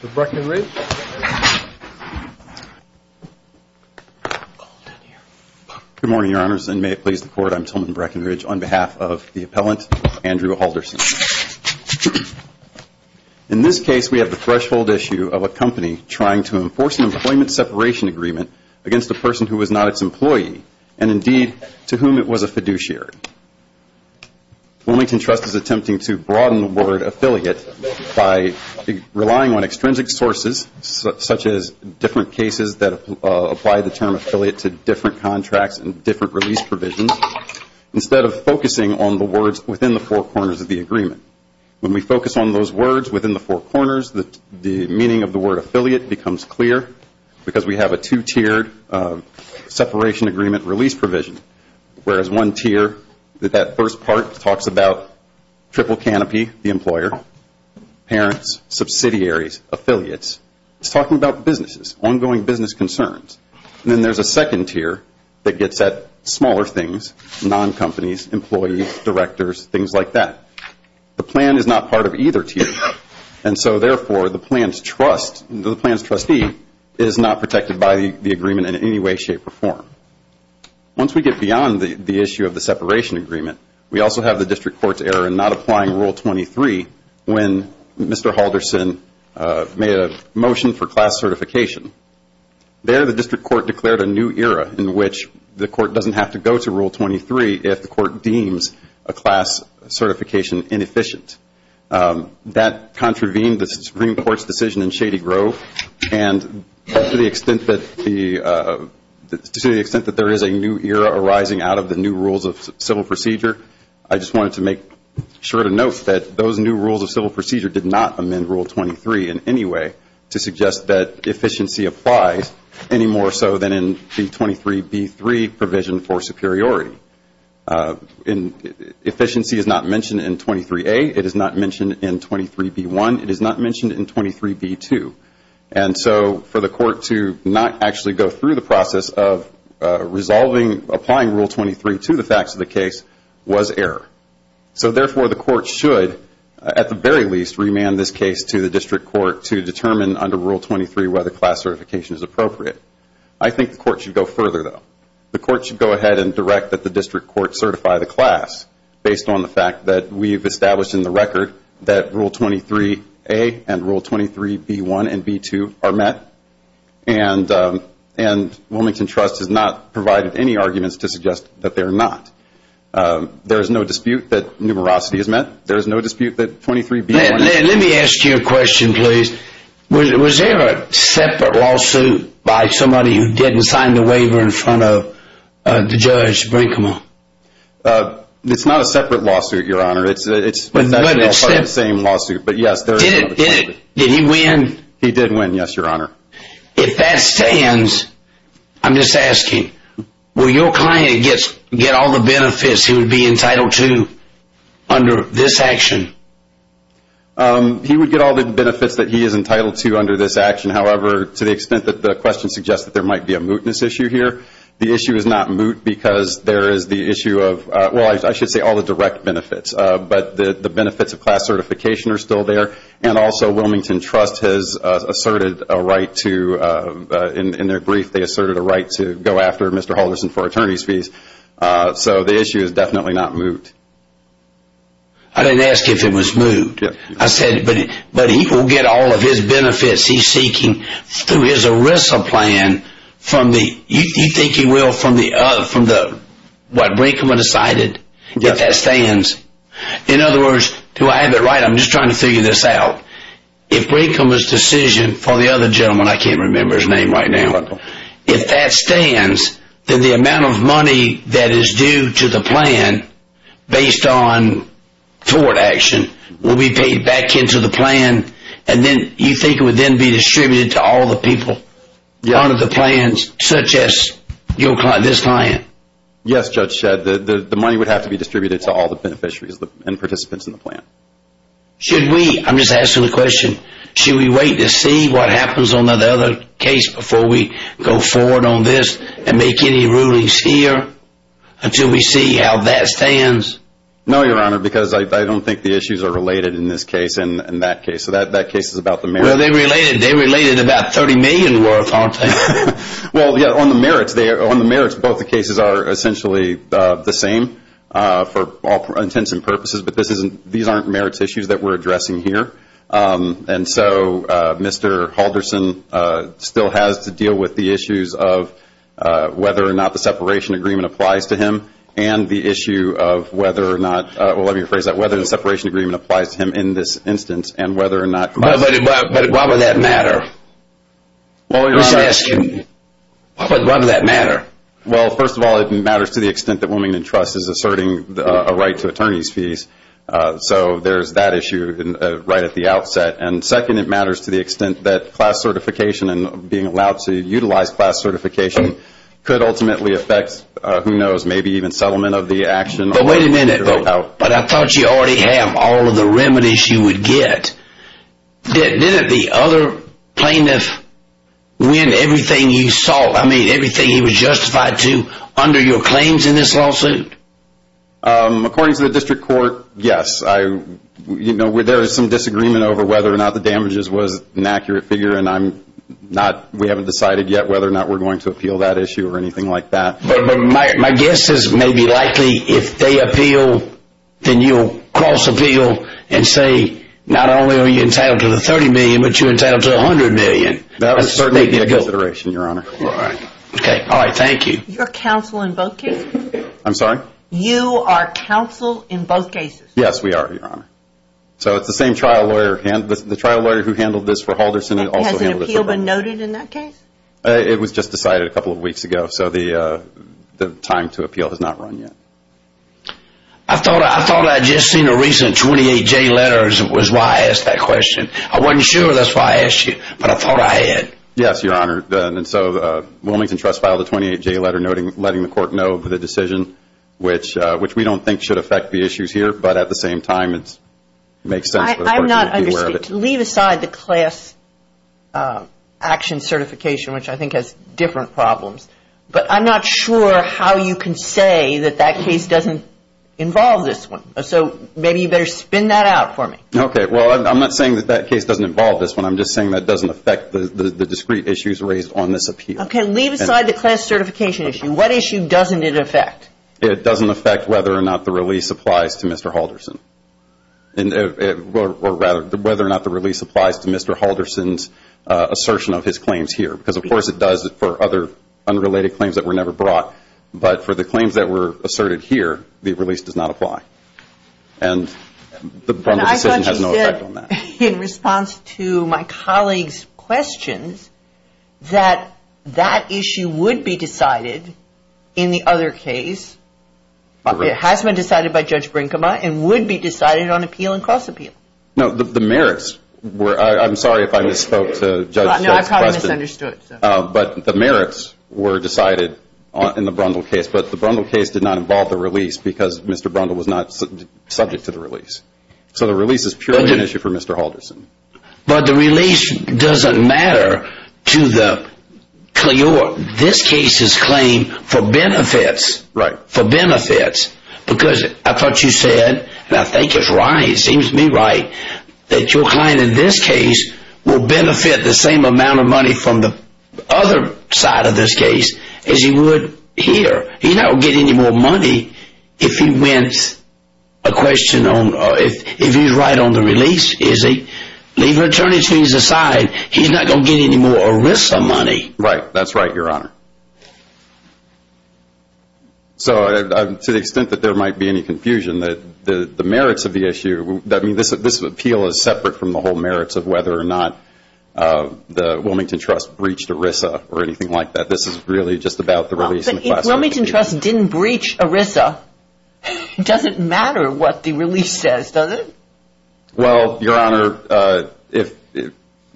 Good morning, Your Honors, and may it please the Court, I'm Tillman Breckinridge on behalf of the appellant, Andrew Halldorson. In this case, we have the threshold issue of a company trying to enforce an employment separation agreement against a person who was not its Wilmington Trust is attempting to broaden the word affiliate by relying on extrinsic sources such as different cases that apply the term affiliate to different contracts and different release provisions instead of focusing on the words within the four corners of the agreement. When we focus on those words within the four corners, the meaning of the word affiliate becomes clear because we have a two-tiered separation agreement release whereas one tier, that first part, talks about triple canopy, the employer, parents, subsidiaries, affiliates. It's talking about businesses, ongoing business concerns. Then there's a second tier that gets at smaller things, non-companies, employees, directors, things like that. The plan is not part of either tier and so therefore the plan's trust, the plan's trustee is not protected by the agreement in any way, shape or form. Once we get beyond the issue of the separation agreement, we also have the district court's error in not applying Rule 23 when Mr. Halldorson made a motion for class certification. There the district court declared a new era in which the court doesn't have to go to Rule 23 if the court deems a class certification inefficient. That contravened the Supreme Court's decision in Shady Grove and to the extent that there is a new era arising out of the new rules of civil procedure, I just wanted to make sure to note that those new rules of civil procedure did not amend Rule 23 in any way to suggest that efficiency applies any more so than in the 23B3 provision for superiority. Efficiency is not mentioned in 23A. It is not mentioned in 23B1. It is not mentioned in 23B2. And so for the court to not actually go through the process of resolving, applying Rule 23 to the facts of the case was error. So therefore the court should, at the very least, remand this case to the district court to determine under Rule 23 whether class certification is appropriate. I think the court should go further though. The court should go ahead and direct that the district court certify the class based on the fact that we have established in the record that Rule 23A and Rule 23B1 and Rule 23B2 are met. And Wilmington Trust has not provided any arguments to suggest that they are not. There is no dispute that numerosity is met. There is no dispute that 23B1... Let me ask you a question please. Was there a separate lawsuit by somebody who didn't sign the waiver in front of the judge Brinkman? It's not a separate lawsuit, Your Honor. It's essentially the same lawsuit, but yes, there is another... Did he win? He did win, yes, Your Honor. If that stands, I'm just asking, will your client get all the benefits he would be entitled to under this action? He would get all the benefits that he is entitled to under this action. However, to the extent that the question suggests that there might be a mootness issue here, the issue is not moot. The issue of... Well, I should say all the direct benefits, but the benefits of class certification are still there. And also, Wilmington Trust has asserted a right to... In their brief, they asserted a right to go after Mr. Halderson for attorney's fees. So the issue is definitely not moot. I didn't ask if it was moot. I said, but he will get all of his benefits he's seeking through his ERISA plan from the... You think he will from what Brinkman decided, if that stands? In other words, do I have it right? I'm just trying to figure this out. If Brinkman's decision for the other gentleman, I can't remember his name right now. If that stands, then the amount of money that is due to the plan based on forward action will be paid back into the plan, and then you think it would then be distributed to all the people under the plans, such as this client? Yes, Judge Shedd. The money would have to be distributed to all the beneficiaries and participants in the plan. Should we, I'm just asking the question, should we wait to see what happens on the other case before we go forward on this and make any rulings here until we see how that stands? No, Your Honor, because I don't think the They related about 30 million worth, aren't they? Well, yeah, on the merits, both the cases are essentially the same for all intents and purposes, but these aren't merits issues that we're addressing here, and so Mr. Halderson still has to deal with the issues of whether or not the separation agreement applies to him, and the issue of whether or not, well let me rephrase that, whether the separation agreement applies to him in this instance, and whether or not But why would that matter? I'm just asking, why would that matter? Well, first of all, it matters to the extent that Women in Trust is asserting a right to attorney's fees, so there's that issue right at the outset, and second, it matters to the extent that class certification and being allowed to utilize class certification could ultimately affect, who knows, maybe even settlement of the action But wait a minute, but I thought you already have all of the remedies you would get, didn't the other plaintiff win everything he was justified to under your claims in this lawsuit? According to the district court, yes, there is some disagreement over whether or not the damages was an accurate figure, and we haven't decided yet whether or not we're going to appeal that issue or anything like that But my guess is maybe likely if they appeal, then you'll cross appeal and say not only are you entitled to the $30 million, but you're entitled to $100 million That would certainly be a consideration, Your Honor All right, thank you You're counsel in both cases? I'm sorry? You are counsel in both cases? Yes, we are, Your Honor, so it's the same trial lawyer, the trial lawyer who handled this for Halderson also handled it for Halderson Has an appeal been noted in that case? It was just decided a couple of weeks ago, so the time to appeal has not run yet I thought I'd just seen a recent 28-J letter was why I asked that question I wasn't sure that's why I asked you, but I thought I had Yes, Your Honor, and so Wilmington Trust filed a 28-J letter letting the court know of the decision, which we don't think should affect the issues here, but at the same time it makes sense for the court to be aware of it Leave aside the class action certification, which I think has different problems, but I'm not sure how you can say that that case doesn't involve this one, so maybe you better spin that out for me Okay, well, I'm not saying that that case doesn't involve this one, I'm just saying that it doesn't affect the discrete issues raised on this appeal Okay, leave aside the class certification issue, what issue doesn't it affect? It doesn't affect whether or not the release applies to Mr. Halderson Or rather, whether or not the release applies to Mr. Halderson's assertion of his claims here, because of course it does for other unrelated claims that were never brought, but for the claims that were asserted here, the release does not apply And the Brundage decision has no effect on that In response to my colleague's questions, that that issue would be decided in the other case, it has been decided by Judge Brinkema, and would be decided on appeal and cross appeal No, the merits were, I'm sorry if I misspoke to Judge's question No, I probably misunderstood But the merits were decided in the Brundage case, but the Brundage case did not involve the release because Mr. Brundage was not subject to the release So the release is purely an issue for Mr. Halderson But the release doesn't matter to this case's claim for benefits Right For benefits, because I thought you said, and I think it's right, it seems to me right that your client in this case will benefit the same amount of money from the other side of this case as he would here He's not going to get any more money if he's right on the release, is he? Leave attorney's fees aside, he's not going to get any more ERISA money Right, that's right your honor So to the extent that there might be any confusion, the merits of the issue, this appeal is separate from the whole merits of whether or not the Wilmington Trust breached ERISA or anything like that This is really just about the release But if Wilmington Trust didn't breach ERISA, it doesn't matter what the release says, does it? Well, your honor,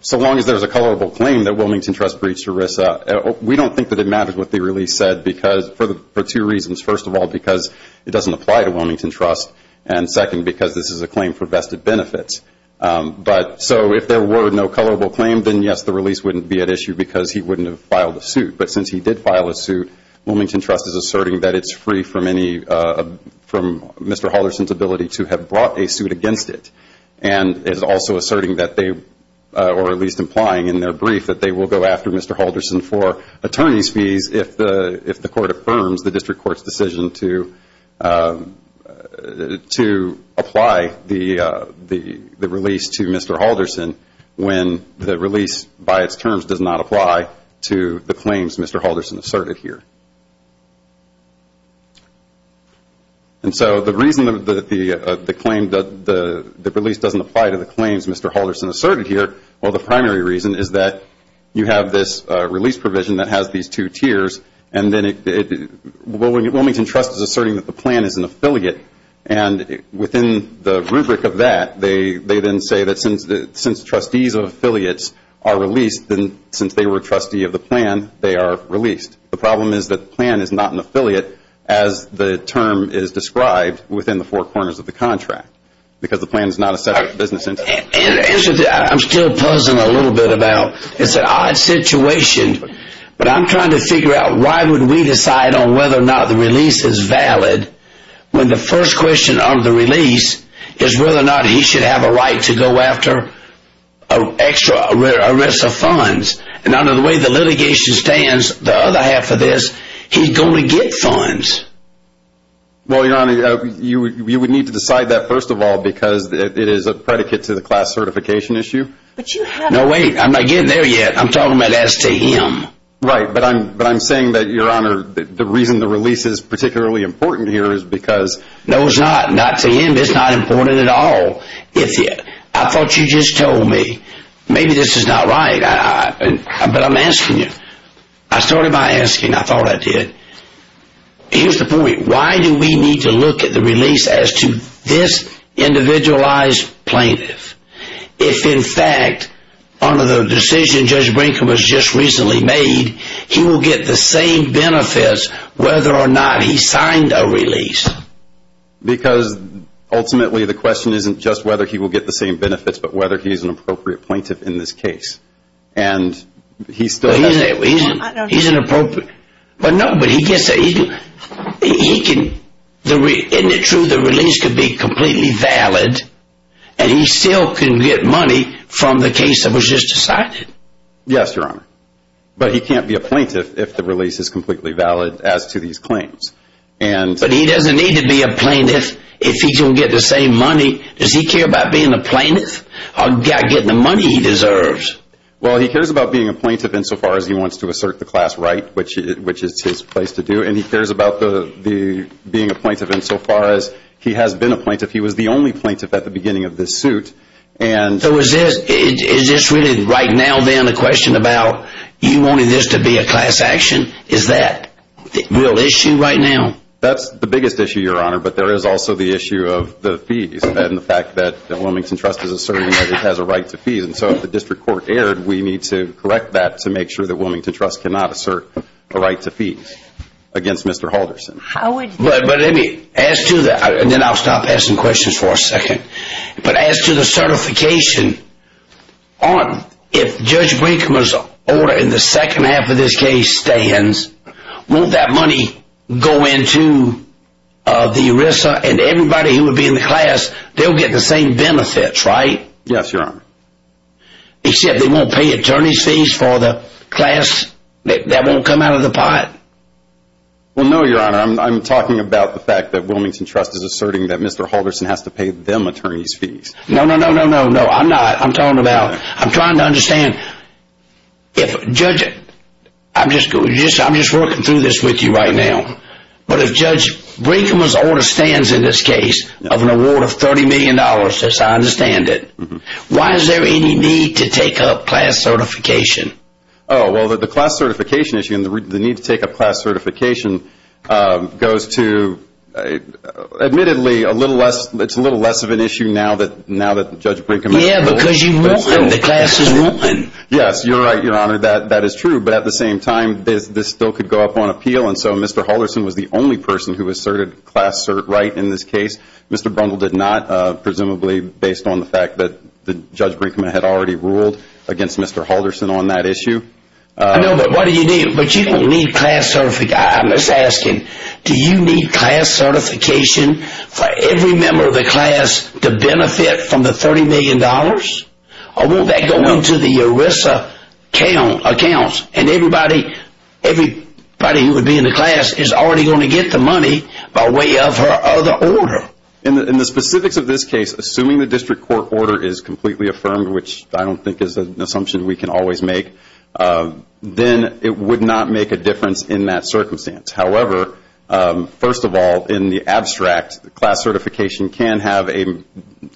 so long as there's a colorable claim that Wilmington Trust breached ERISA we don't think that it matters what the release said for two reasons First of all, because it doesn't apply to Wilmington Trust And second, because this is a claim for vested benefits So if there were no colorable claim, then yes, the release wouldn't be at issue because he wouldn't have filed a suit But since he did file a suit, Wilmington Trust is asserting that it's free from Mr. Halderson's ability to have brought a suit against it And is also asserting that they, or at least implying in their brief that they will go after Mr. Halderson for attorney's fees if the court affirms the district court's decision to apply the release to Mr. Halderson when the release by its terms does not apply to the claims Mr. Halderson asserted here And so the reason that the release doesn't apply to the claims Mr. Halderson asserted here well the primary reason is that you have this release provision that has these two tiers and then it, Wilmington Trust is asserting that the plan is an affiliate and within the rubric of that, they then say that since trustees of affiliates are released then since they were a trustee of the plan, they are released The problem is that the plan is not an affiliate as the term is described within the four corners of the contract because the plan is not a separate business entity I'm still puzzled a little bit about, it's an odd situation but I'm trying to figure out why would we decide on whether or not the release is valid when the first question on the release is whether or not he should have a right to go after an extra arrest of funds and under the way the litigation stands, the other half of this, he's going to get funds Well your honor, you would need to decide that first of all because it is a predicate to the class certification issue But you have No wait, I'm not getting there yet, I'm talking about as to him Right, but I'm saying that your honor, the reason the release is particularly important here is because No it's not, not to him, it's not important at all I thought you just told me, maybe this is not right, but I'm asking you I started by asking, I thought I did Here's the point, why do we need to look at the release as to this individualized plaintiff if in fact, under the decision Judge Brinkham has just recently made he will get the same benefits whether or not he signed a release Because ultimately the question isn't just whether he will get the same benefits but whether he's an appropriate plaintiff in this case and he still has that I don't know Isn't it true the release could be completely valid and he still can get money from the case that was just decided Yes your honor, but he can't be a plaintiff if the release is completely valid as to these claims But he doesn't need to be a plaintiff if he's going to get the same money Does he care about being a plaintiff or getting the money he deserves Well he cares about being a plaintiff in so far as he wants to assert the class right which is his place to do and he cares about being a plaintiff in so far as he has been a plaintiff he was the only plaintiff at the beginning of this suit So is this really right now then the question about you wanting this to be a class action Is that the real issue right now? That's the biggest issue your honor, but there is also the issue of the fees and the fact that the Wilmington Trust is asserting that it has a right to fees and so if the district court erred we need to correct that to make sure that the Wilmington Trust cannot assert a right to fees against Mr. Halderson But as to that, and then I'll stop asking questions for a second But as to the certification, if Judge Brinkman's order in the second half of this case stands won't that money go into the ERISA and everybody who would be in the class they'll get the same benefits right? Yes your honor Except they won't pay attorney's fees for the class, that won't come out of the pot? Well no your honor, I'm talking about the fact that Wilmington Trust is asserting that Mr. Halderson has to pay them attorney's fees No, no, no, no, I'm not, I'm talking about, I'm trying to understand If Judge, I'm just working through this with you right now But if Judge Brinkman's order stands in this case, of an award of 30 million dollars as I understand it Why is there any need to take up class certification? Oh well the class certification issue and the need to take up class certification goes to, admittedly it's a little less of an issue now that Judge Brinkman Yeah because you've won, the class has won Yes, you're right your honor, that is true But at the same time, this still could go up on appeal and so Mr. Halderson was the only person who asserted class right in this case Mr. Brundle did not, presumably based on the fact that Judge Brinkman had already ruled against Mr. Halderson on that issue I know but what do you need, but you don't need class certification, I'm just asking Do you need class certification for every member of the class to benefit from the 30 million dollars? Or will that go into the ERISA accounts and everybody who would be in the class is already going to get the money by way of her other order? In the specifics of this case, assuming the district court order is completely affirmed Which I don't think is an assumption we can always make Then it would not make a difference in that circumstance However, first of all, in the abstract, class certification can have an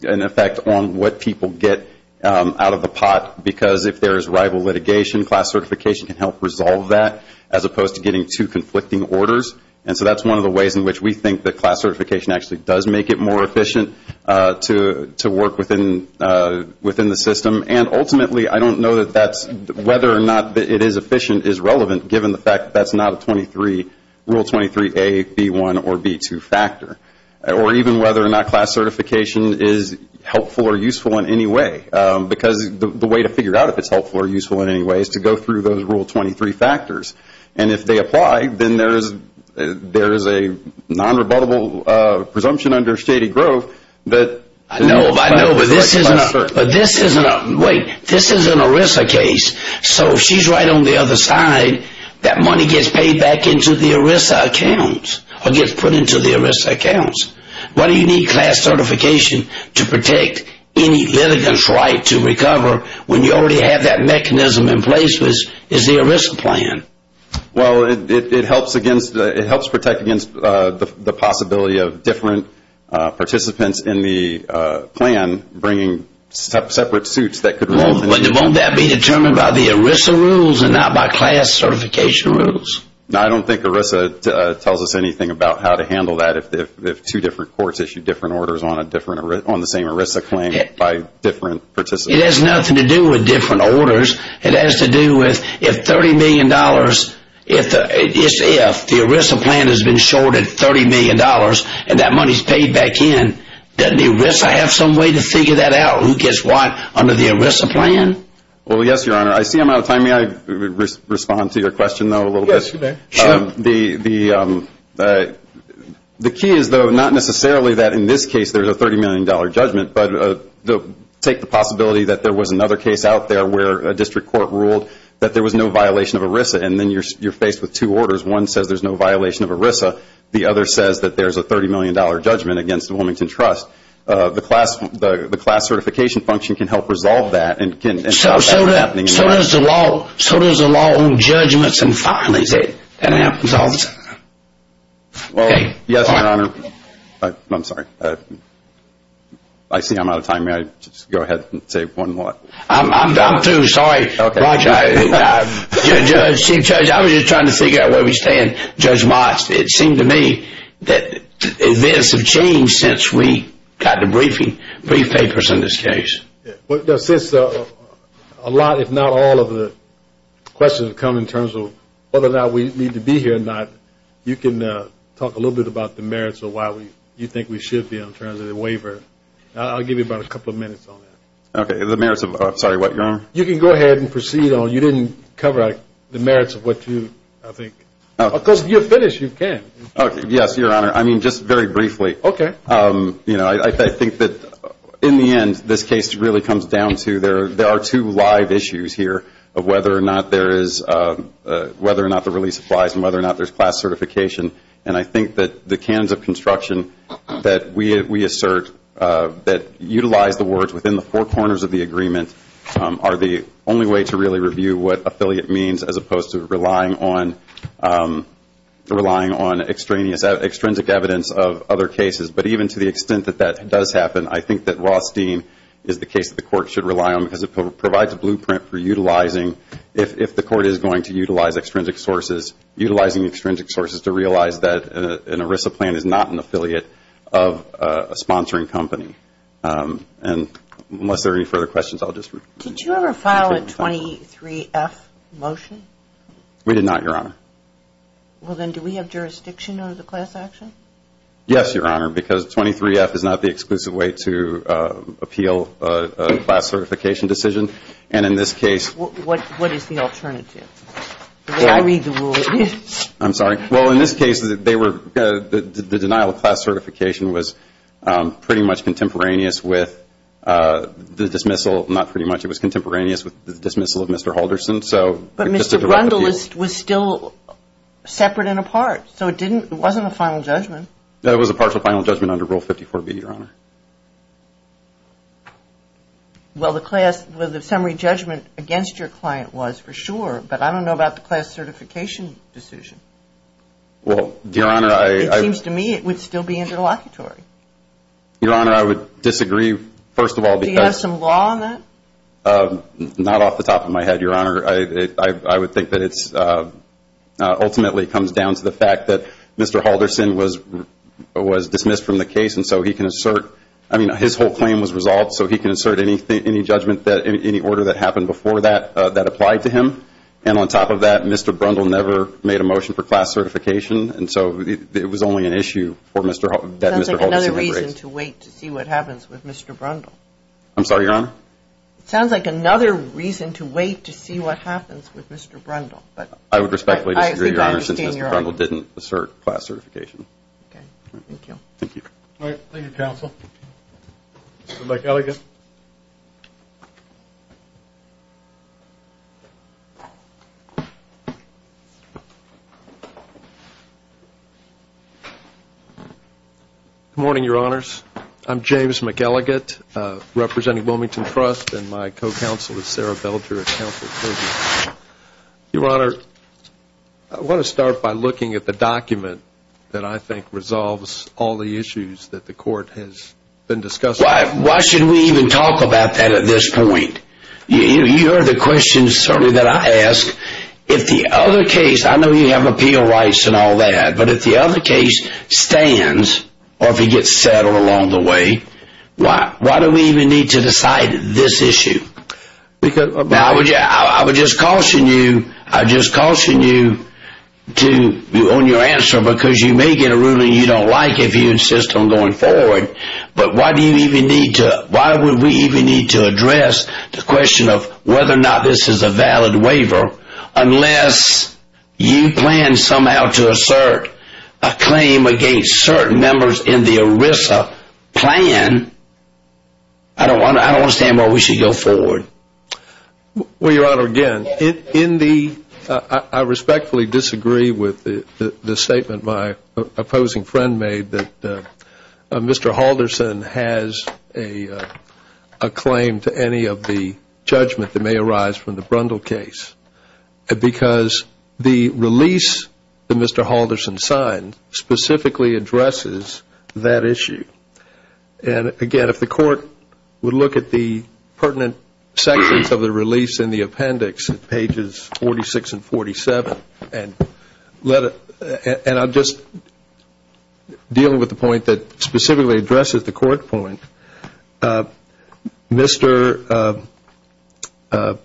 effect on what people get out of the pot Because if there is rival litigation, class certification can help resolve that As opposed to getting two conflicting orders And so that's one of the ways in which we think that class certification actually does make it more efficient to work within the system And ultimately, I don't know that whether or not it is efficient is relevant Given the fact that that's not a Rule 23A, B1, or B2 factor Or even whether or not class certification is helpful or useful in any way Because the way to figure out if it's helpful or useful in any way is to go through those Rule 23 factors And if they apply, then there is a non-rebuttable presumption under shady growth I know, but this is an ERISA case So if she's right on the other side, that money gets paid back into the ERISA accounts Or gets put into the ERISA accounts Why do you need class certification to protect any litigant's right to recover When you already have that mechanism in place, which is the ERISA plan? Well, it helps protect against the possibility of different participants in the plan bringing separate suits that could Won't that be determined by the ERISA rules and not by class certification rules? No, I don't think ERISA tells us anything about how to handle that If two different courts issue different orders on the same ERISA claim by different participants It has nothing to do with different orders It has to do with if 30 million dollars If the ERISA plan has been shorted 30 million dollars And that money is paid back in Doesn't ERISA have some way to figure that out? Who gets what under the ERISA plan? Well, yes, your honor I see I'm out of time May I respond to your question, though, a little bit? Yes, you may The key is, though, not necessarily that in this case there is a 30 million dollar judgment But take the possibility that there was another case out there where a district court ruled that there was no violation of ERISA And then you're faced with two orders One says there's no violation of ERISA The other says that there's a 30 million dollar judgment against the Wilmington Trust The class certification function can help resolve that So does the law own judgments and finalize it? Yes, your honor I'm sorry I see I'm out of time May I just go ahead and say one more? I'm through, sorry Roger Chief Judge, I was just trying to figure out where we stand Judge Moss, it seemed to me that events have changed since we got the brief papers in this case Well, since a lot, if not all, of the questions have come in terms of whether or not we need to be here or not You can talk a little bit about the merits of why you think we should be on terms of the waiver I'll give you about a couple of minutes on that Okay, the merits of what, your honor? You can go ahead and proceed on You didn't cover the merits of what you, I think Because if you're finished, you can Okay, yes, your honor I mean, just very briefly Okay You know, I think that in the end, this case really comes down to There are two live issues here of whether or not there is, whether or not the release applies and whether or not there's class certification And I think that the canons of construction that we assert, that utilize the words within the four corners of the agreement Are the only way to really review what affiliate means as opposed to relying on extrinsic evidence of other cases But even to the extent that that does happen, I think that Rothstein is the case that the court should rely on Because it provides a blueprint for utilizing, if the court is going to utilize extrinsic sources Utilizing extrinsic sources to realize that an ERISA plan is not an affiliate of a sponsoring company And unless there are any further questions, I'll just Did you ever file a 23F motion? We did not, your honor Well then, do we have jurisdiction over the class action? Yes, your honor, because 23F is not the exclusive way to appeal a class certification decision And in this case What is the alternative? I read the rules I'm sorry Well, in this case, the denial of class certification was pretty much contemporaneous with the dismissal Not pretty much, it was contemporaneous with the dismissal of Mr. Holderson But Mr. Brundle was still separate and apart So it wasn't a final judgment? It was a partial final judgment under Rule 54B, your honor Well, the summary judgment against your client was for sure But I don't know about the class certification decision Well, your honor, I It seems to me it would still be interlocutory Your honor, I would disagree, first of all Do you have some law on that? Not off the top of my head, your honor I would think that it ultimately comes down to the fact that Mr. Holderson was dismissed from the case And so he can assert I mean, his whole claim was resolved So he can assert any judgment, any order that happened before that, that applied to him And on top of that, Mr. Brundle never made a motion for class certification And so it was only an issue that Mr. Holderson had raised It sounds like another reason to wait to see what happens with Mr. Brundle I'm sorry, your honor? It sounds like another reason to wait to see what happens with Mr. Brundle I would respectfully disagree, your honor, since Mr. Brundle didn't assert class certification Okay, thank you Thank you All right, thank you, counsel Mr. McElligott Good morning, your honors I'm James McElligott, representing Wilmington Trust And my co-counsel is Sarah Belger, counsel for the jury Your honor, I want to start by looking at the document that I think resolves all the issues that the court has been discussing Why should we even talk about that at this point? You heard the questions, certainly, that I asked If the other case, I know you have appeal rights and all that But if the other case stands, or if it gets settled along the way Why do we even need to decide this issue? I would just caution you I'd just caution you on your answer Because you may get a ruling you don't like if you insist on going forward But why would we even need to address the question of whether or not this is a valid waiver Unless you plan somehow to assert a claim against certain members in the ERISA plan I don't understand why we should go forward Well, your honor, again I respectfully disagree with the statement my opposing friend made Mr. Halderson has a claim to any of the judgment that may arise from the Brundle case Because the release that Mr. Halderson signed specifically addresses that issue And again, if the court would look at the pertinent sections of the release in the appendix Pages 46 and 47 And I'll just deal with the point that specifically addresses the court point Mr. Brundle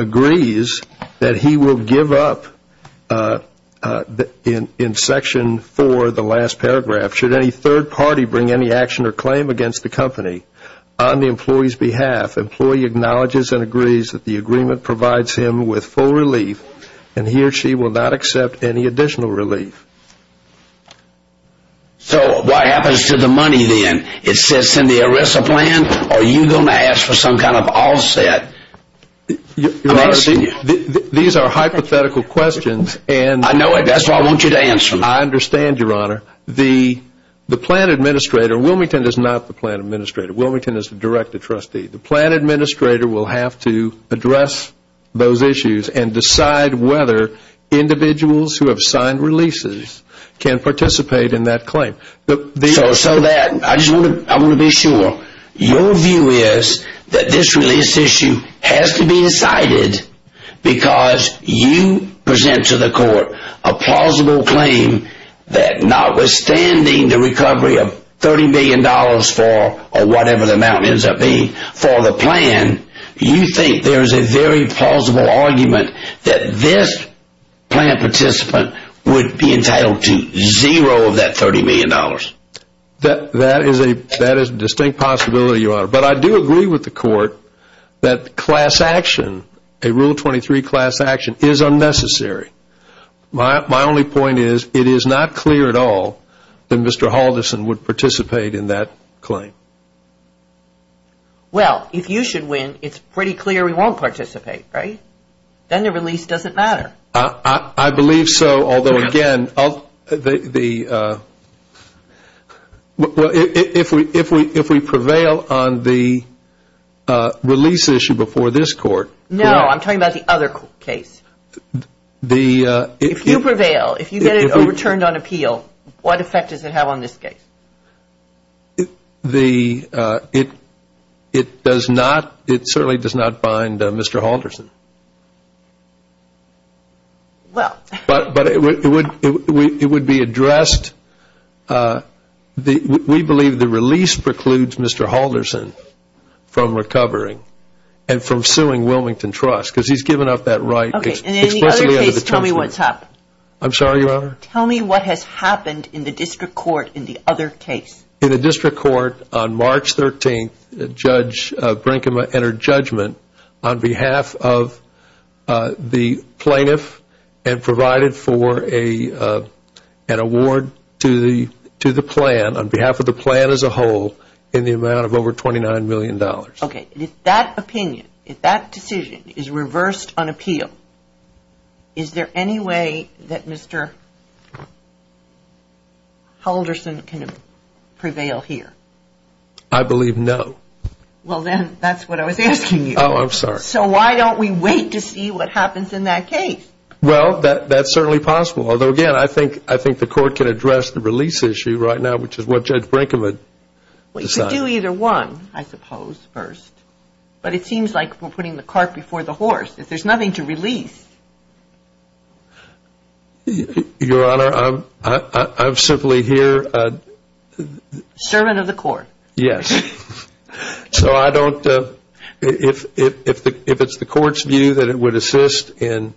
agrees that he will give up in section 4, the last paragraph Should any third party bring any action or claim against the company On the employee's behalf, the employee acknowledges and agrees that the agreement provides him with full relief And he or she will not accept any additional relief So what happens to the money then? It sits in the ERISA plan? Are you going to ask for some kind of offset? Your honor, these are hypothetical questions I know it, that's why I want you to answer them I understand, your honor The plan administrator, Wilmington is not the plan administrator, Wilmington is the director trustee The plan administrator will have to address those issues And decide whether individuals who have signed releases can participate in that claim So that, I want to be sure Your view is that this release issue has to be decided Because you present to the court a plausible claim That notwithstanding the recovery of $30 million for whatever the amount ends up being For the plan, you think there is a very plausible argument That this plan participant would be entitled to zero of that $30 million That is a distinct possibility, your honor But I do agree with the court that class action A Rule 23 class action is unnecessary My only point is, it is not clear at all That Mr. Halderson would participate in that claim Well, if you should win, it's pretty clear he won't participate, right? Then the release doesn't matter I believe so, although again Well, if we prevail on the release issue before this court No, I'm talking about the other case If you prevail, if you get it overturned on appeal, what effect does it have on this case? It certainly does not bind Mr. Halderson Well But it would be addressed We believe the release precludes Mr. Halderson from recovering And from suing Wilmington Trust Because he has given up that right In the other case, tell me what has happened I'm sorry, your honor Tell me what has happened in the district court in the other case In the district court, on March 13th Brinkman entered judgment on behalf of the plaintiff And provided for an award to the plan On behalf of the plan as a whole In the amount of over $29 million Okay, if that opinion, if that decision is reversed on appeal Is there any way that Mr. Halderson can prevail here? I believe no Well then, that's what I was asking you Oh, I'm sorry So why don't we wait to see what happens in that case? Well, that's certainly possible Although again, I think the court can address the release issue right now Which is what Judge Brinkman decided Well, you could do either one, I suppose, first But it seems like we're putting the cart before the horse If there's nothing to release Your honor, I'm simply here Servant of the court Yes So I don't, if it's the court's view that it would assist in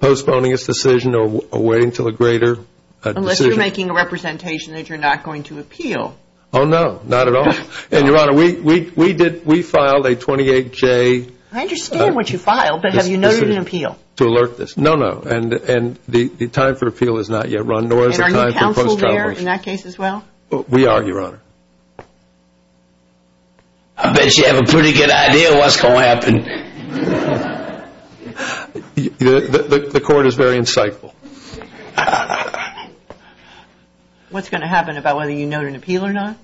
Postponing its decision or waiting until a greater decision Unless you're making a representation that you're not going to appeal Oh no, not at all And your honor, we filed a 28-J I understand what you filed, but have you noted an appeal? To alert this, no, no And the time for appeal is not yet run And are you counseled there in that case as well? We are, your honor I bet you have a pretty good idea of what's going to happen The court is very insightful What's going to happen about whether you note an appeal or not?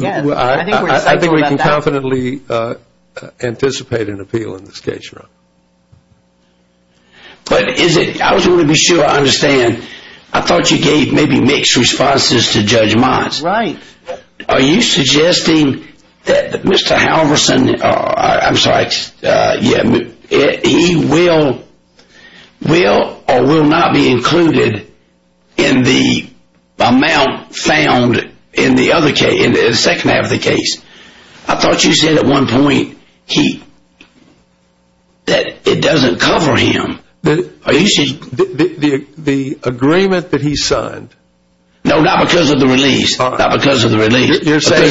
I think we can confidently anticipate an appeal in this case, your honor But is it, I just want to be sure I understand I thought you gave maybe mixed responses to Judge Mott Right Are you suggesting that Mr. Halverson I'm sorry, he will or will not be included In the amount found in the second half of the case I thought you said at one point That it doesn't cover him The agreement that he signed No, not because of the release Because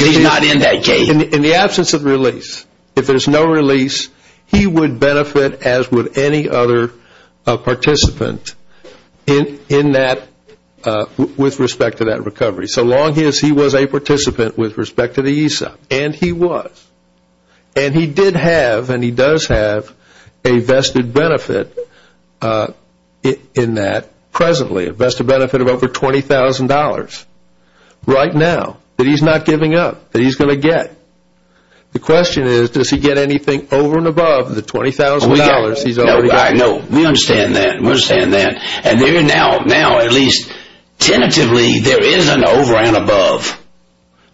he's not in that case In the absence of release, if there's no release He would benefit as would any other participant In that, with respect to that recovery So long as he was a participant with respect to the ESOP And he was And he did have, and he does have A vested benefit In that, presently A vested benefit of over $20,000 Right now That he's not giving up That he's going to get The question is, does he get anything over and above the $20,000 No, we understand that And now at least Tentatively there is an over and above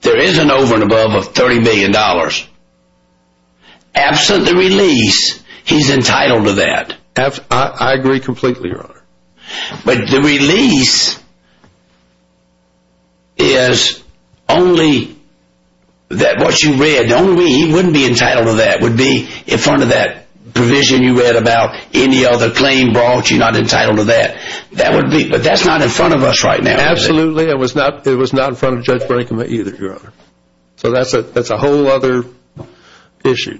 There is an over and above of $30,000,000 Absent the release He's entitled to that I agree completely, your honor But the release Is only That what you read, he wouldn't be entitled to that Would be in front of that provision you read about Any other claim brought, you're not entitled to that But that's not in front of us right now Absolutely, it was not in front of Judge Brinkman either So that's a whole other issue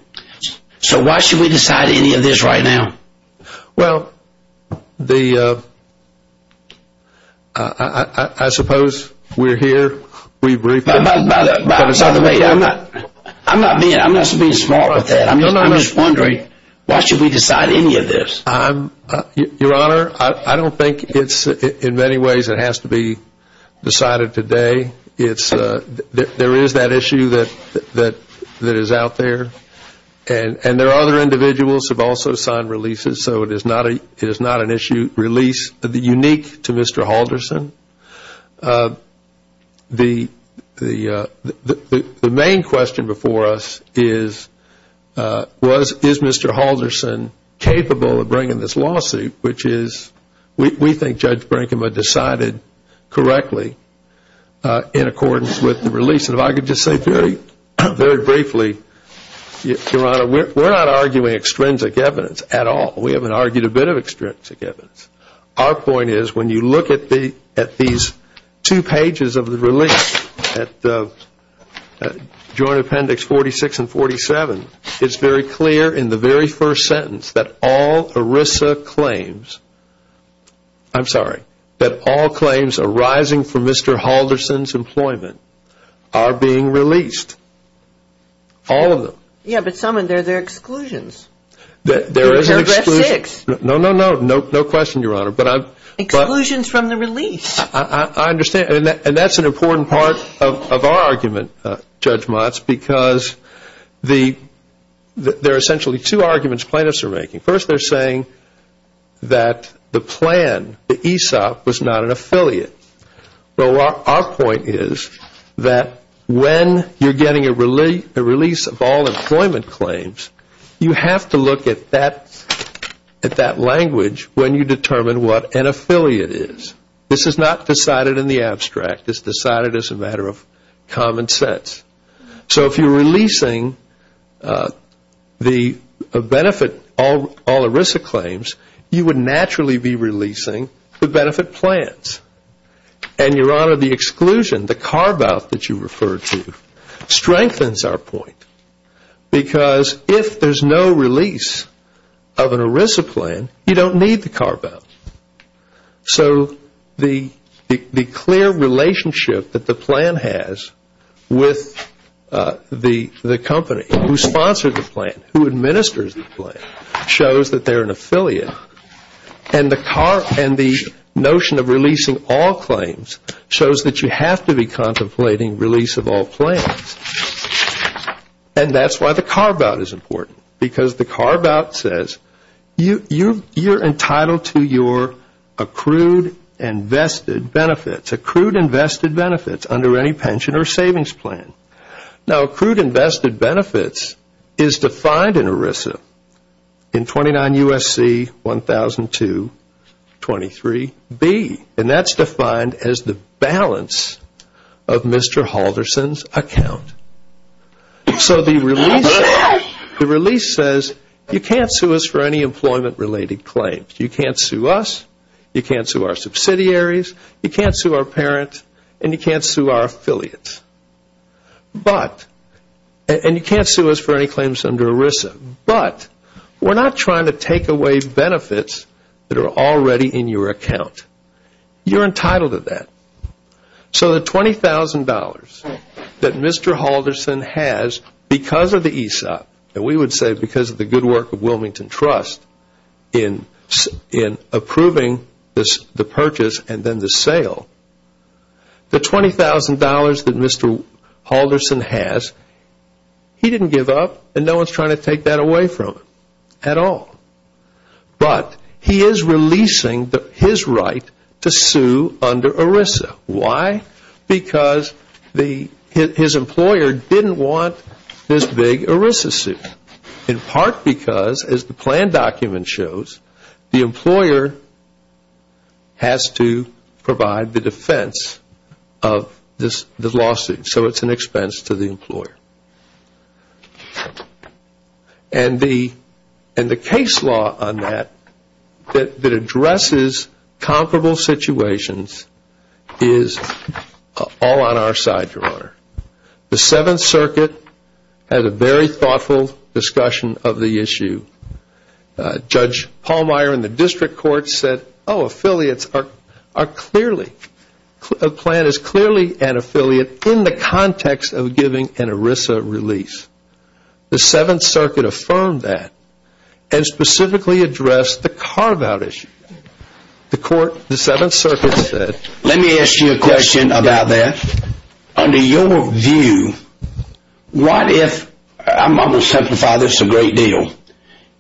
So why should we decide any of this right now Well, the I suppose We're here I'm not being smart with that I'm just wondering, why should we decide any of this Your honor, I don't think In many ways it has to be decided today There is that issue That is out there And there are other individuals who have also signed releases So it is not an issue Unique to Mr. Halderson The main question before us Is Is Mr. Halderson capable of bringing this lawsuit Which is, we think Judge Brinkman decided Correctly In accordance with the release And if I could just say very briefly Your honor, we're not arguing extrinsic evidence at all We haven't argued a bit of extrinsic evidence Our point is, when you look at these two pages of the release At the Joint appendix 46 and 47 It's very clear in the very first sentence That all ERISA claims I'm sorry, that all claims arising from Mr. Halderson's employment Are being released All of them Yeah, but some of them are exclusions No, no, no, no question your honor Exclusions from the release I understand, and that's an important part of our argument Judge Motz, because There are essentially two arguments plaintiffs are making First they're saying that the plan The ESOP was not an affiliate Our point is that When you're getting a release of all employment claims You have to look at that At that language when you determine what an affiliate is This is not decided in the abstract It's decided as a matter of common sense So if you're releasing The benefit, all ERISA claims You would naturally be releasing the benefit plans And your honor, the exclusion The carve out that you referred to Strengthens our point Because if there's no release of an ERISA plan You don't need the carve out So the clear relationship That the plan has With the company Who sponsors the plan, who administers the plan Shows that they're an affiliate And the notion of releasing all claims Shows that you have to be contemplating release of all plans And that's why the carve out is important Because the carve out says You're entitled to your Accrued and vested benefits Accrued and vested benefits under any pension or savings plan Now accrued and vested benefits Is defined in ERISA In 29 U.S.C. 1002 23 B And that's defined as the balance Of Mr. Halverson's account So the release says You can't sue us for any employment related claims You can't sue us, you can't sue our subsidiaries You can't sue our parents and you can't sue our affiliates But And you can't sue us for any claims under ERISA But we're not trying to take away benefits That are already in your account You're entitled to that So the $20,000 that Mr. Halverson has Because of the ESOP And we would say because of the good work of Wilmington Trust In approving the purchase and then the sale The $20,000 that Mr. Halverson has He didn't give up And no one is trying to take that away from him At all But he is releasing his right to sue Under ERISA Why? Because his employer didn't want this big ERISA suit In part because As the plan document shows The employer has to provide the defense Of the lawsuit So it's an expense to the employer And the case law on that That addresses comparable situations Is all on our side, Your Honor The Seventh Circuit Had a very thoughtful discussion of the issue Judge Pallmeyer in the District Court said Oh affiliates are clearly A plan is clearly an affiliate In the context of giving an ERISA release The Seventh Circuit affirmed that And specifically addressed the carve out issue The court, the Seventh Circuit said Let me ask you a question about that Under your view I'm going to simplify this a great deal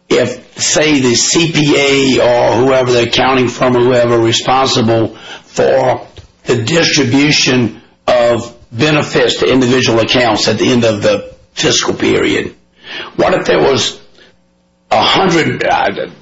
If say the CPA or whoever The accounting firm or whoever is responsible For the distribution of benefits To individual accounts at the end of the fiscal period What if there was A hundred,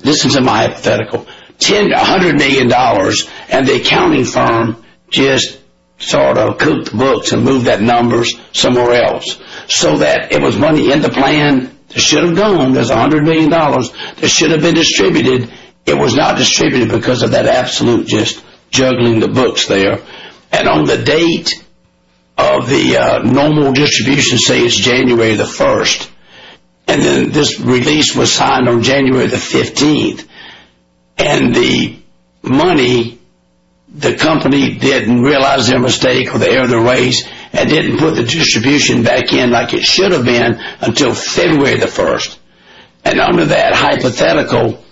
listen to my hypothetical A hundred million dollars and the accounting firm Just sort of cooked the books And moved that numbers somewhere else So that it was money in the plan that should have gone There's a hundred million dollars that should have been distributed It was not distributed because of that absolute Just juggling the books there And on the date of the normal distribution Say it's January the 1st And then this release was signed on January the 15th And the money The company didn't realize their mistake And didn't put the distribution back in Like it should have been until February the 1st And under that hypothetical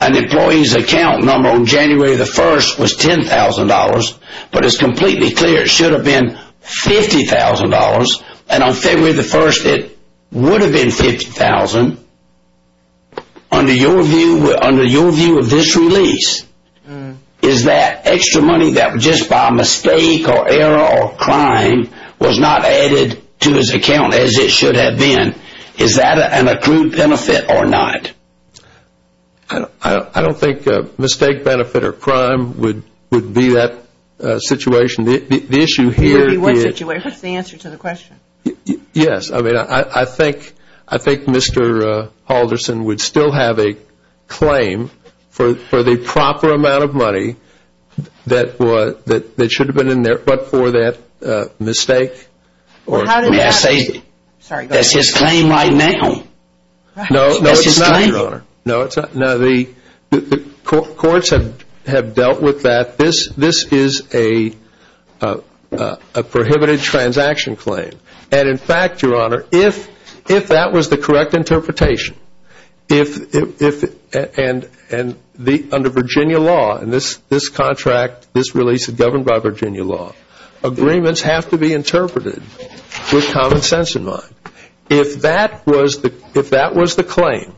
An employee's account number on January the 1st Was $10,000 but it's completely clear That it should have been $50,000 And on February the 1st it would have been $50,000 Under your view Under your view of this release Is that extra money that was just by mistake Or error or crime was not added To his account as it should have been Is that an accrued benefit or not? I don't think mistake, benefit or crime Would be that situation The issue here What's the answer to the question? I think Mr. Halderson would still have a claim For the proper amount of money That should have been in there But for that mistake That's his claim right now No it's not The courts have dealt with that This is a prohibited transaction claim And in fact your honor If that was the correct interpretation If Under Virginia law This contract, this release is governed by Virginia law Agreements have to be interpreted with common sense in mind If that was the claim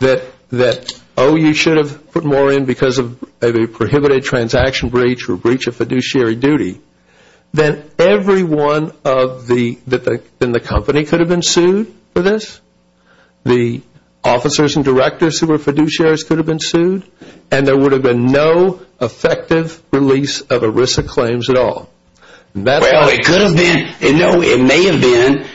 That oh you should have put more in Because of a prohibited transaction breach Or breach of fiduciary duty Then everyone in the company could have been sued For this The officers and directors who were fiduciaries could have been sued And there would have been no effective release Of ERISA claims at all Well it could have been No it may have been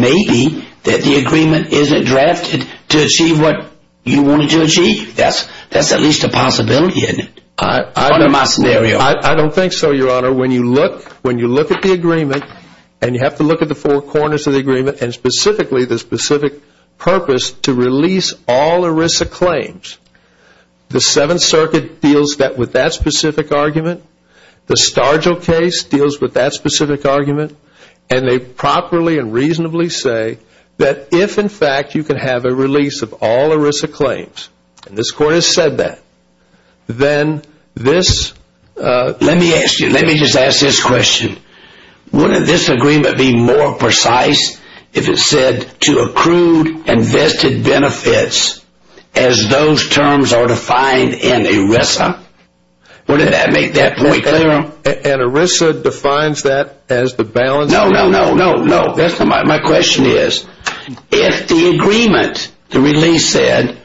Maybe that the agreement isn't drafted To achieve what you want it to achieve That's at least a possibility I don't think so your honor When you look at the agreement And you have to look at the four corners of the agreement And specifically the specific purpose To release all ERISA claims The 7th circuit deals with that specific argument The Stargill case deals with that specific argument And they properly and reasonably say That if in fact you can have a release of all ERISA claims And this court has said that Then this Let me ask you, let me just ask this question Wouldn't this agreement be more precise If it said to accrue invested benefits As those terms are defined in ERISA Wouldn't that make that point clear And ERISA defines that as the balance No, no, no, my question is If the agreement, the release said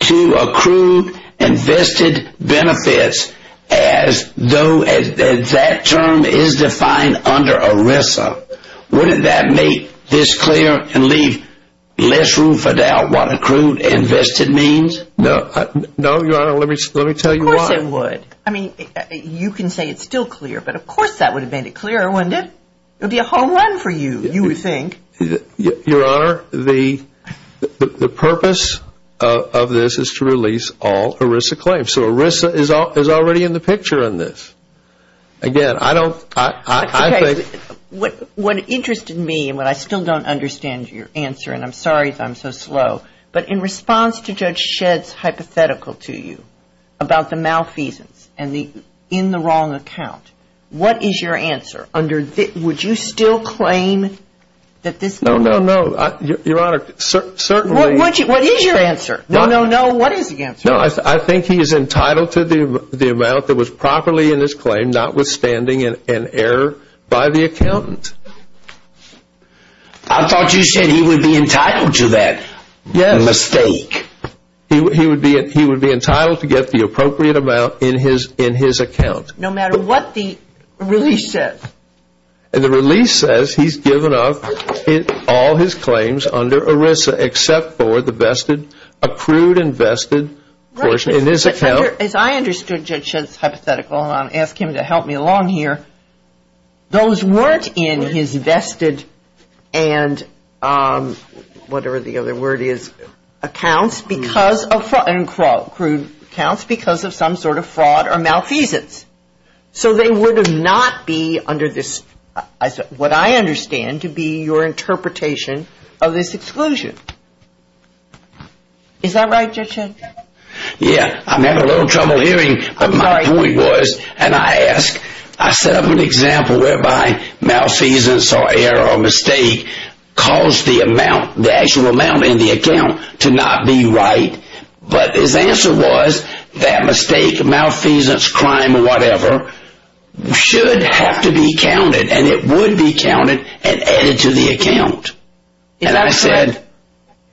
To accrue Invested benefits As that term is defined under ERISA Wouldn't that make this clear And leave less room for doubt What accrued invested means No, no your honor, let me tell you why Of course it would, I mean you can say it's still clear But of course that would have made it clearer wouldn't it It would be a home run for you, you would think Your honor, the purpose of this Is to release all ERISA claims So ERISA is already in the picture on this Again, I don't, I think What interested me, and I still don't understand your answer And I'm sorry if I'm so slow But in response to Judge Shedd's hypothetical to you About the malfeasance and the in the wrong account What is your answer Would you still claim that this No, no, no, your honor What is your answer No, no, no, what is the answer No, I think he is entitled to the amount that was properly in his claim Not withstanding an error by the accountant I thought you said he would be entitled to that Yes Mistake He would be entitled to get the appropriate amount in his account No matter what the release says And the release says he's given up All his claims under ERISA Except for the vested, accrued and vested As I understood Judge Shedd's hypothetical And I'll ask him to help me along here Those weren't in his vested And whatever the other word is Accounts because of Accrued accounts because of some sort of fraud or malfeasance So they would not be under this What I understand to be your interpretation Of this exclusion Is that right Judge Shedd Yes, I'm having a little trouble hearing My point was and I ask I set up an example whereby malfeasance or error or mistake Caused the amount, the actual amount in the account To not be right But his answer was that mistake, malfeasance Crime or whatever should have to be counted And it would be counted and added to the account And I said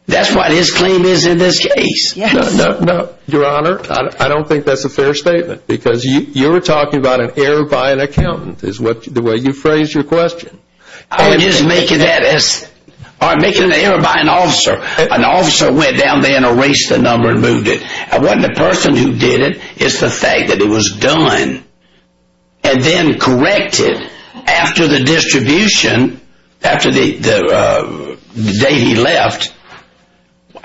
That's what his claim is in this case No, your honor, I don't think that's a fair statement Because you were talking about an error by an accountant Is the way you phrased your question I would just make it an error by an officer An officer went down there and erased the number and moved it It wasn't the person who did it, it was the fact that it was done And then corrected After the distribution After the date he left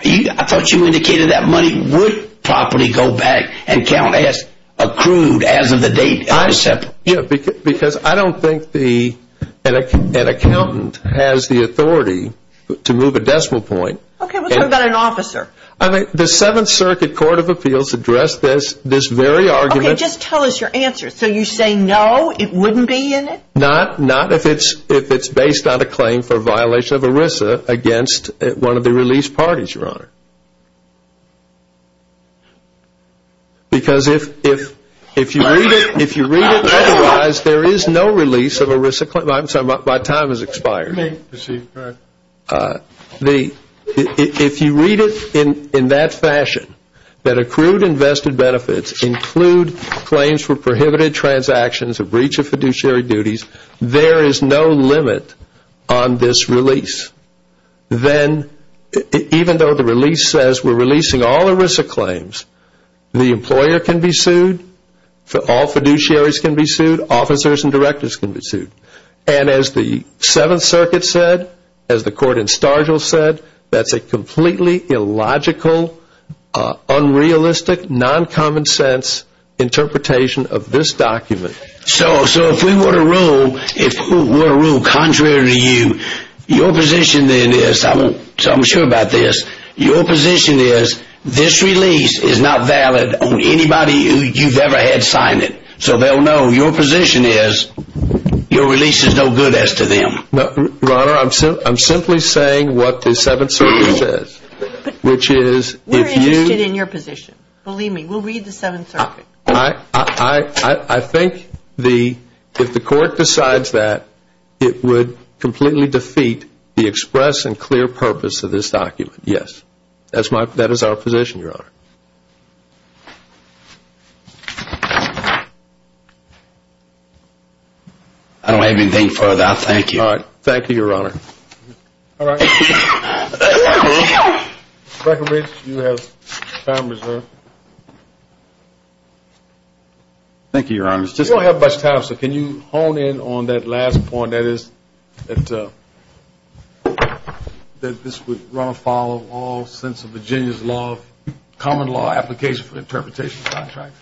I thought you indicated that money would Properly go back and count as accrued As of the date I set Because I don't think an accountant Has the authority to move a decimal point Okay, let's talk about an officer The 7th Circuit Court of Appeals addressed this very argument Okay, just tell us your answer So you say no, it wouldn't be in it? Not if it's based on a claim for violation of ERISA Against one of the release parties, your honor Because if If you read it otherwise There is no release of ERISA claims My time has expired If you read it in that fashion That accrued invested benefits Include claims for prohibited transactions A breach of fiduciary duties There is no limit on this release Then even though the release says We're releasing all ERISA claims The employer can be sued All fiduciaries can be sued Officers and directors can be sued And as the 7th Circuit said That's a completely illogical Unrealistic, non-common sense Interpretation of this document So if we were to rule Contrary to you Your position is Your position is This release is not valid On anybody you've ever had sign it So they'll know your position is Your release is no good as to them Your honor, I'm simply saying what the 7th Circuit says We're interested in your position Believe me, we'll read the 7th Circuit I think if the court decides that It would completely defeat the express And clear purpose of this document That is our position, your honor I don't have anything further Thank you Thank you, your honor Breckenridge, you have time reserved Thank you, your honor We don't have much time Counselor, can you hone in on that last point That this would run afoul Of all sense of Virginia's law Common law application for interpretation contracts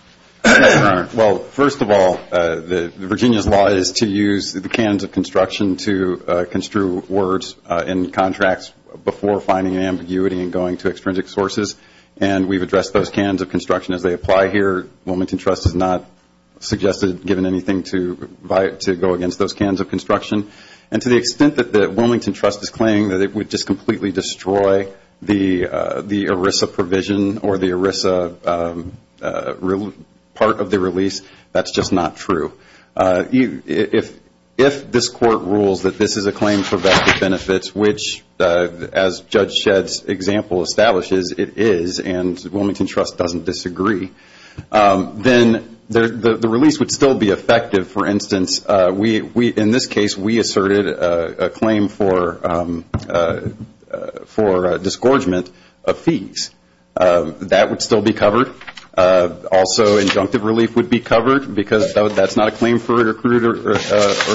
Well, first of all Virginia's law is to use the canons of construction To construe words in contracts Before finding ambiguity and going to extrinsic sources And we've addressed those canons of construction as they apply here The Wilmington Trust has not suggested Given anything to go against those canons of construction And to the extent that the Wilmington Trust is claiming That it would just completely destroy the ERISA provision Or the ERISA part of the release That's just not true If this court rules that this is a claim For vested benefits Which as Judge Shedd's example establishes It is and Wilmington Trust doesn't disagree Then the release would still be effective For instance, in this case We asserted a claim for For disgorgement of fees That would still be covered Also injunctive relief would be covered Because that's not a claim for accrued or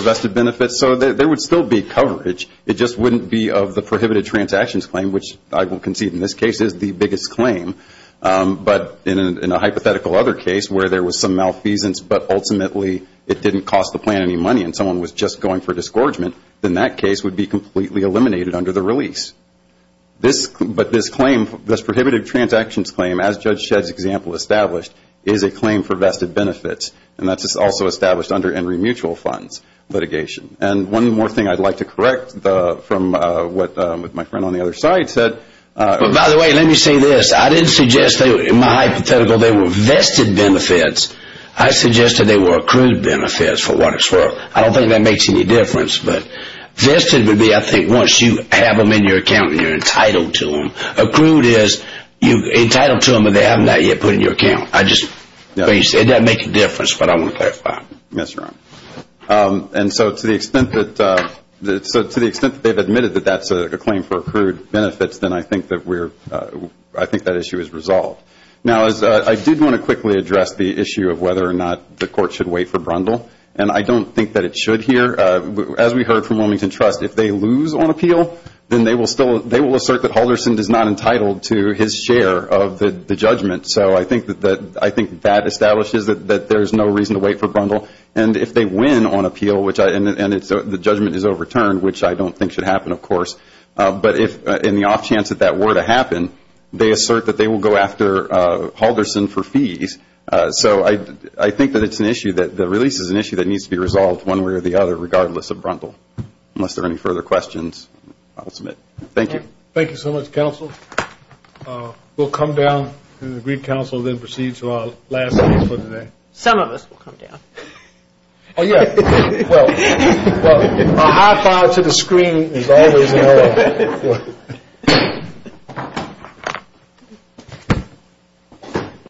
vested benefits So there would still be coverage It just wouldn't be of the prohibited transactions claim Which I will concede in this case is the biggest claim But in a hypothetical other case where there was some malfeasance But ultimately it didn't cost the plan any money And someone was just going for disgorgement Then that case would be completely eliminated under the release But this claim, this prohibited transactions claim As Judge Shedd's example established Is a claim for vested benefits And that's also established under Enry Mutual Funds litigation And one more thing I'd like to correct From what my friend on the other side said By the way, let me say this I didn't suggest they were vested benefits I suggested they were accrued benefits I don't think that makes any difference Vested would be once you have them in your account And you're entitled to them But they have not yet been put in your account It doesn't make a difference, but I want to clarify And so to the extent that they've admitted That that's a claim for accrued benefits Then I think that issue is resolved Now I did want to quickly address the issue Of whether or not the court should wait for Brundle And I don't think that it should here As we heard from Wilmington Trust, if they lose on appeal Then they will assert that Halderson is not entitled To his share of the judgment So I think that establishes that there's no reason to wait for Brundle And if they win on appeal And the judgment is overturned, which I don't think should happen of course But in the off chance that that were to happen They assert that they will go after Halderson for fees So I think that it's an issue That the release is an issue that needs to be resolved One way or the other, regardless of Brundle Unless there are any further questions, I will submit. Thank you. Thank you so much, counsel We'll come down and the Green Council will proceed to our last meeting for today Some of us will come down Oh yeah, well, a high five to the screen Is always an error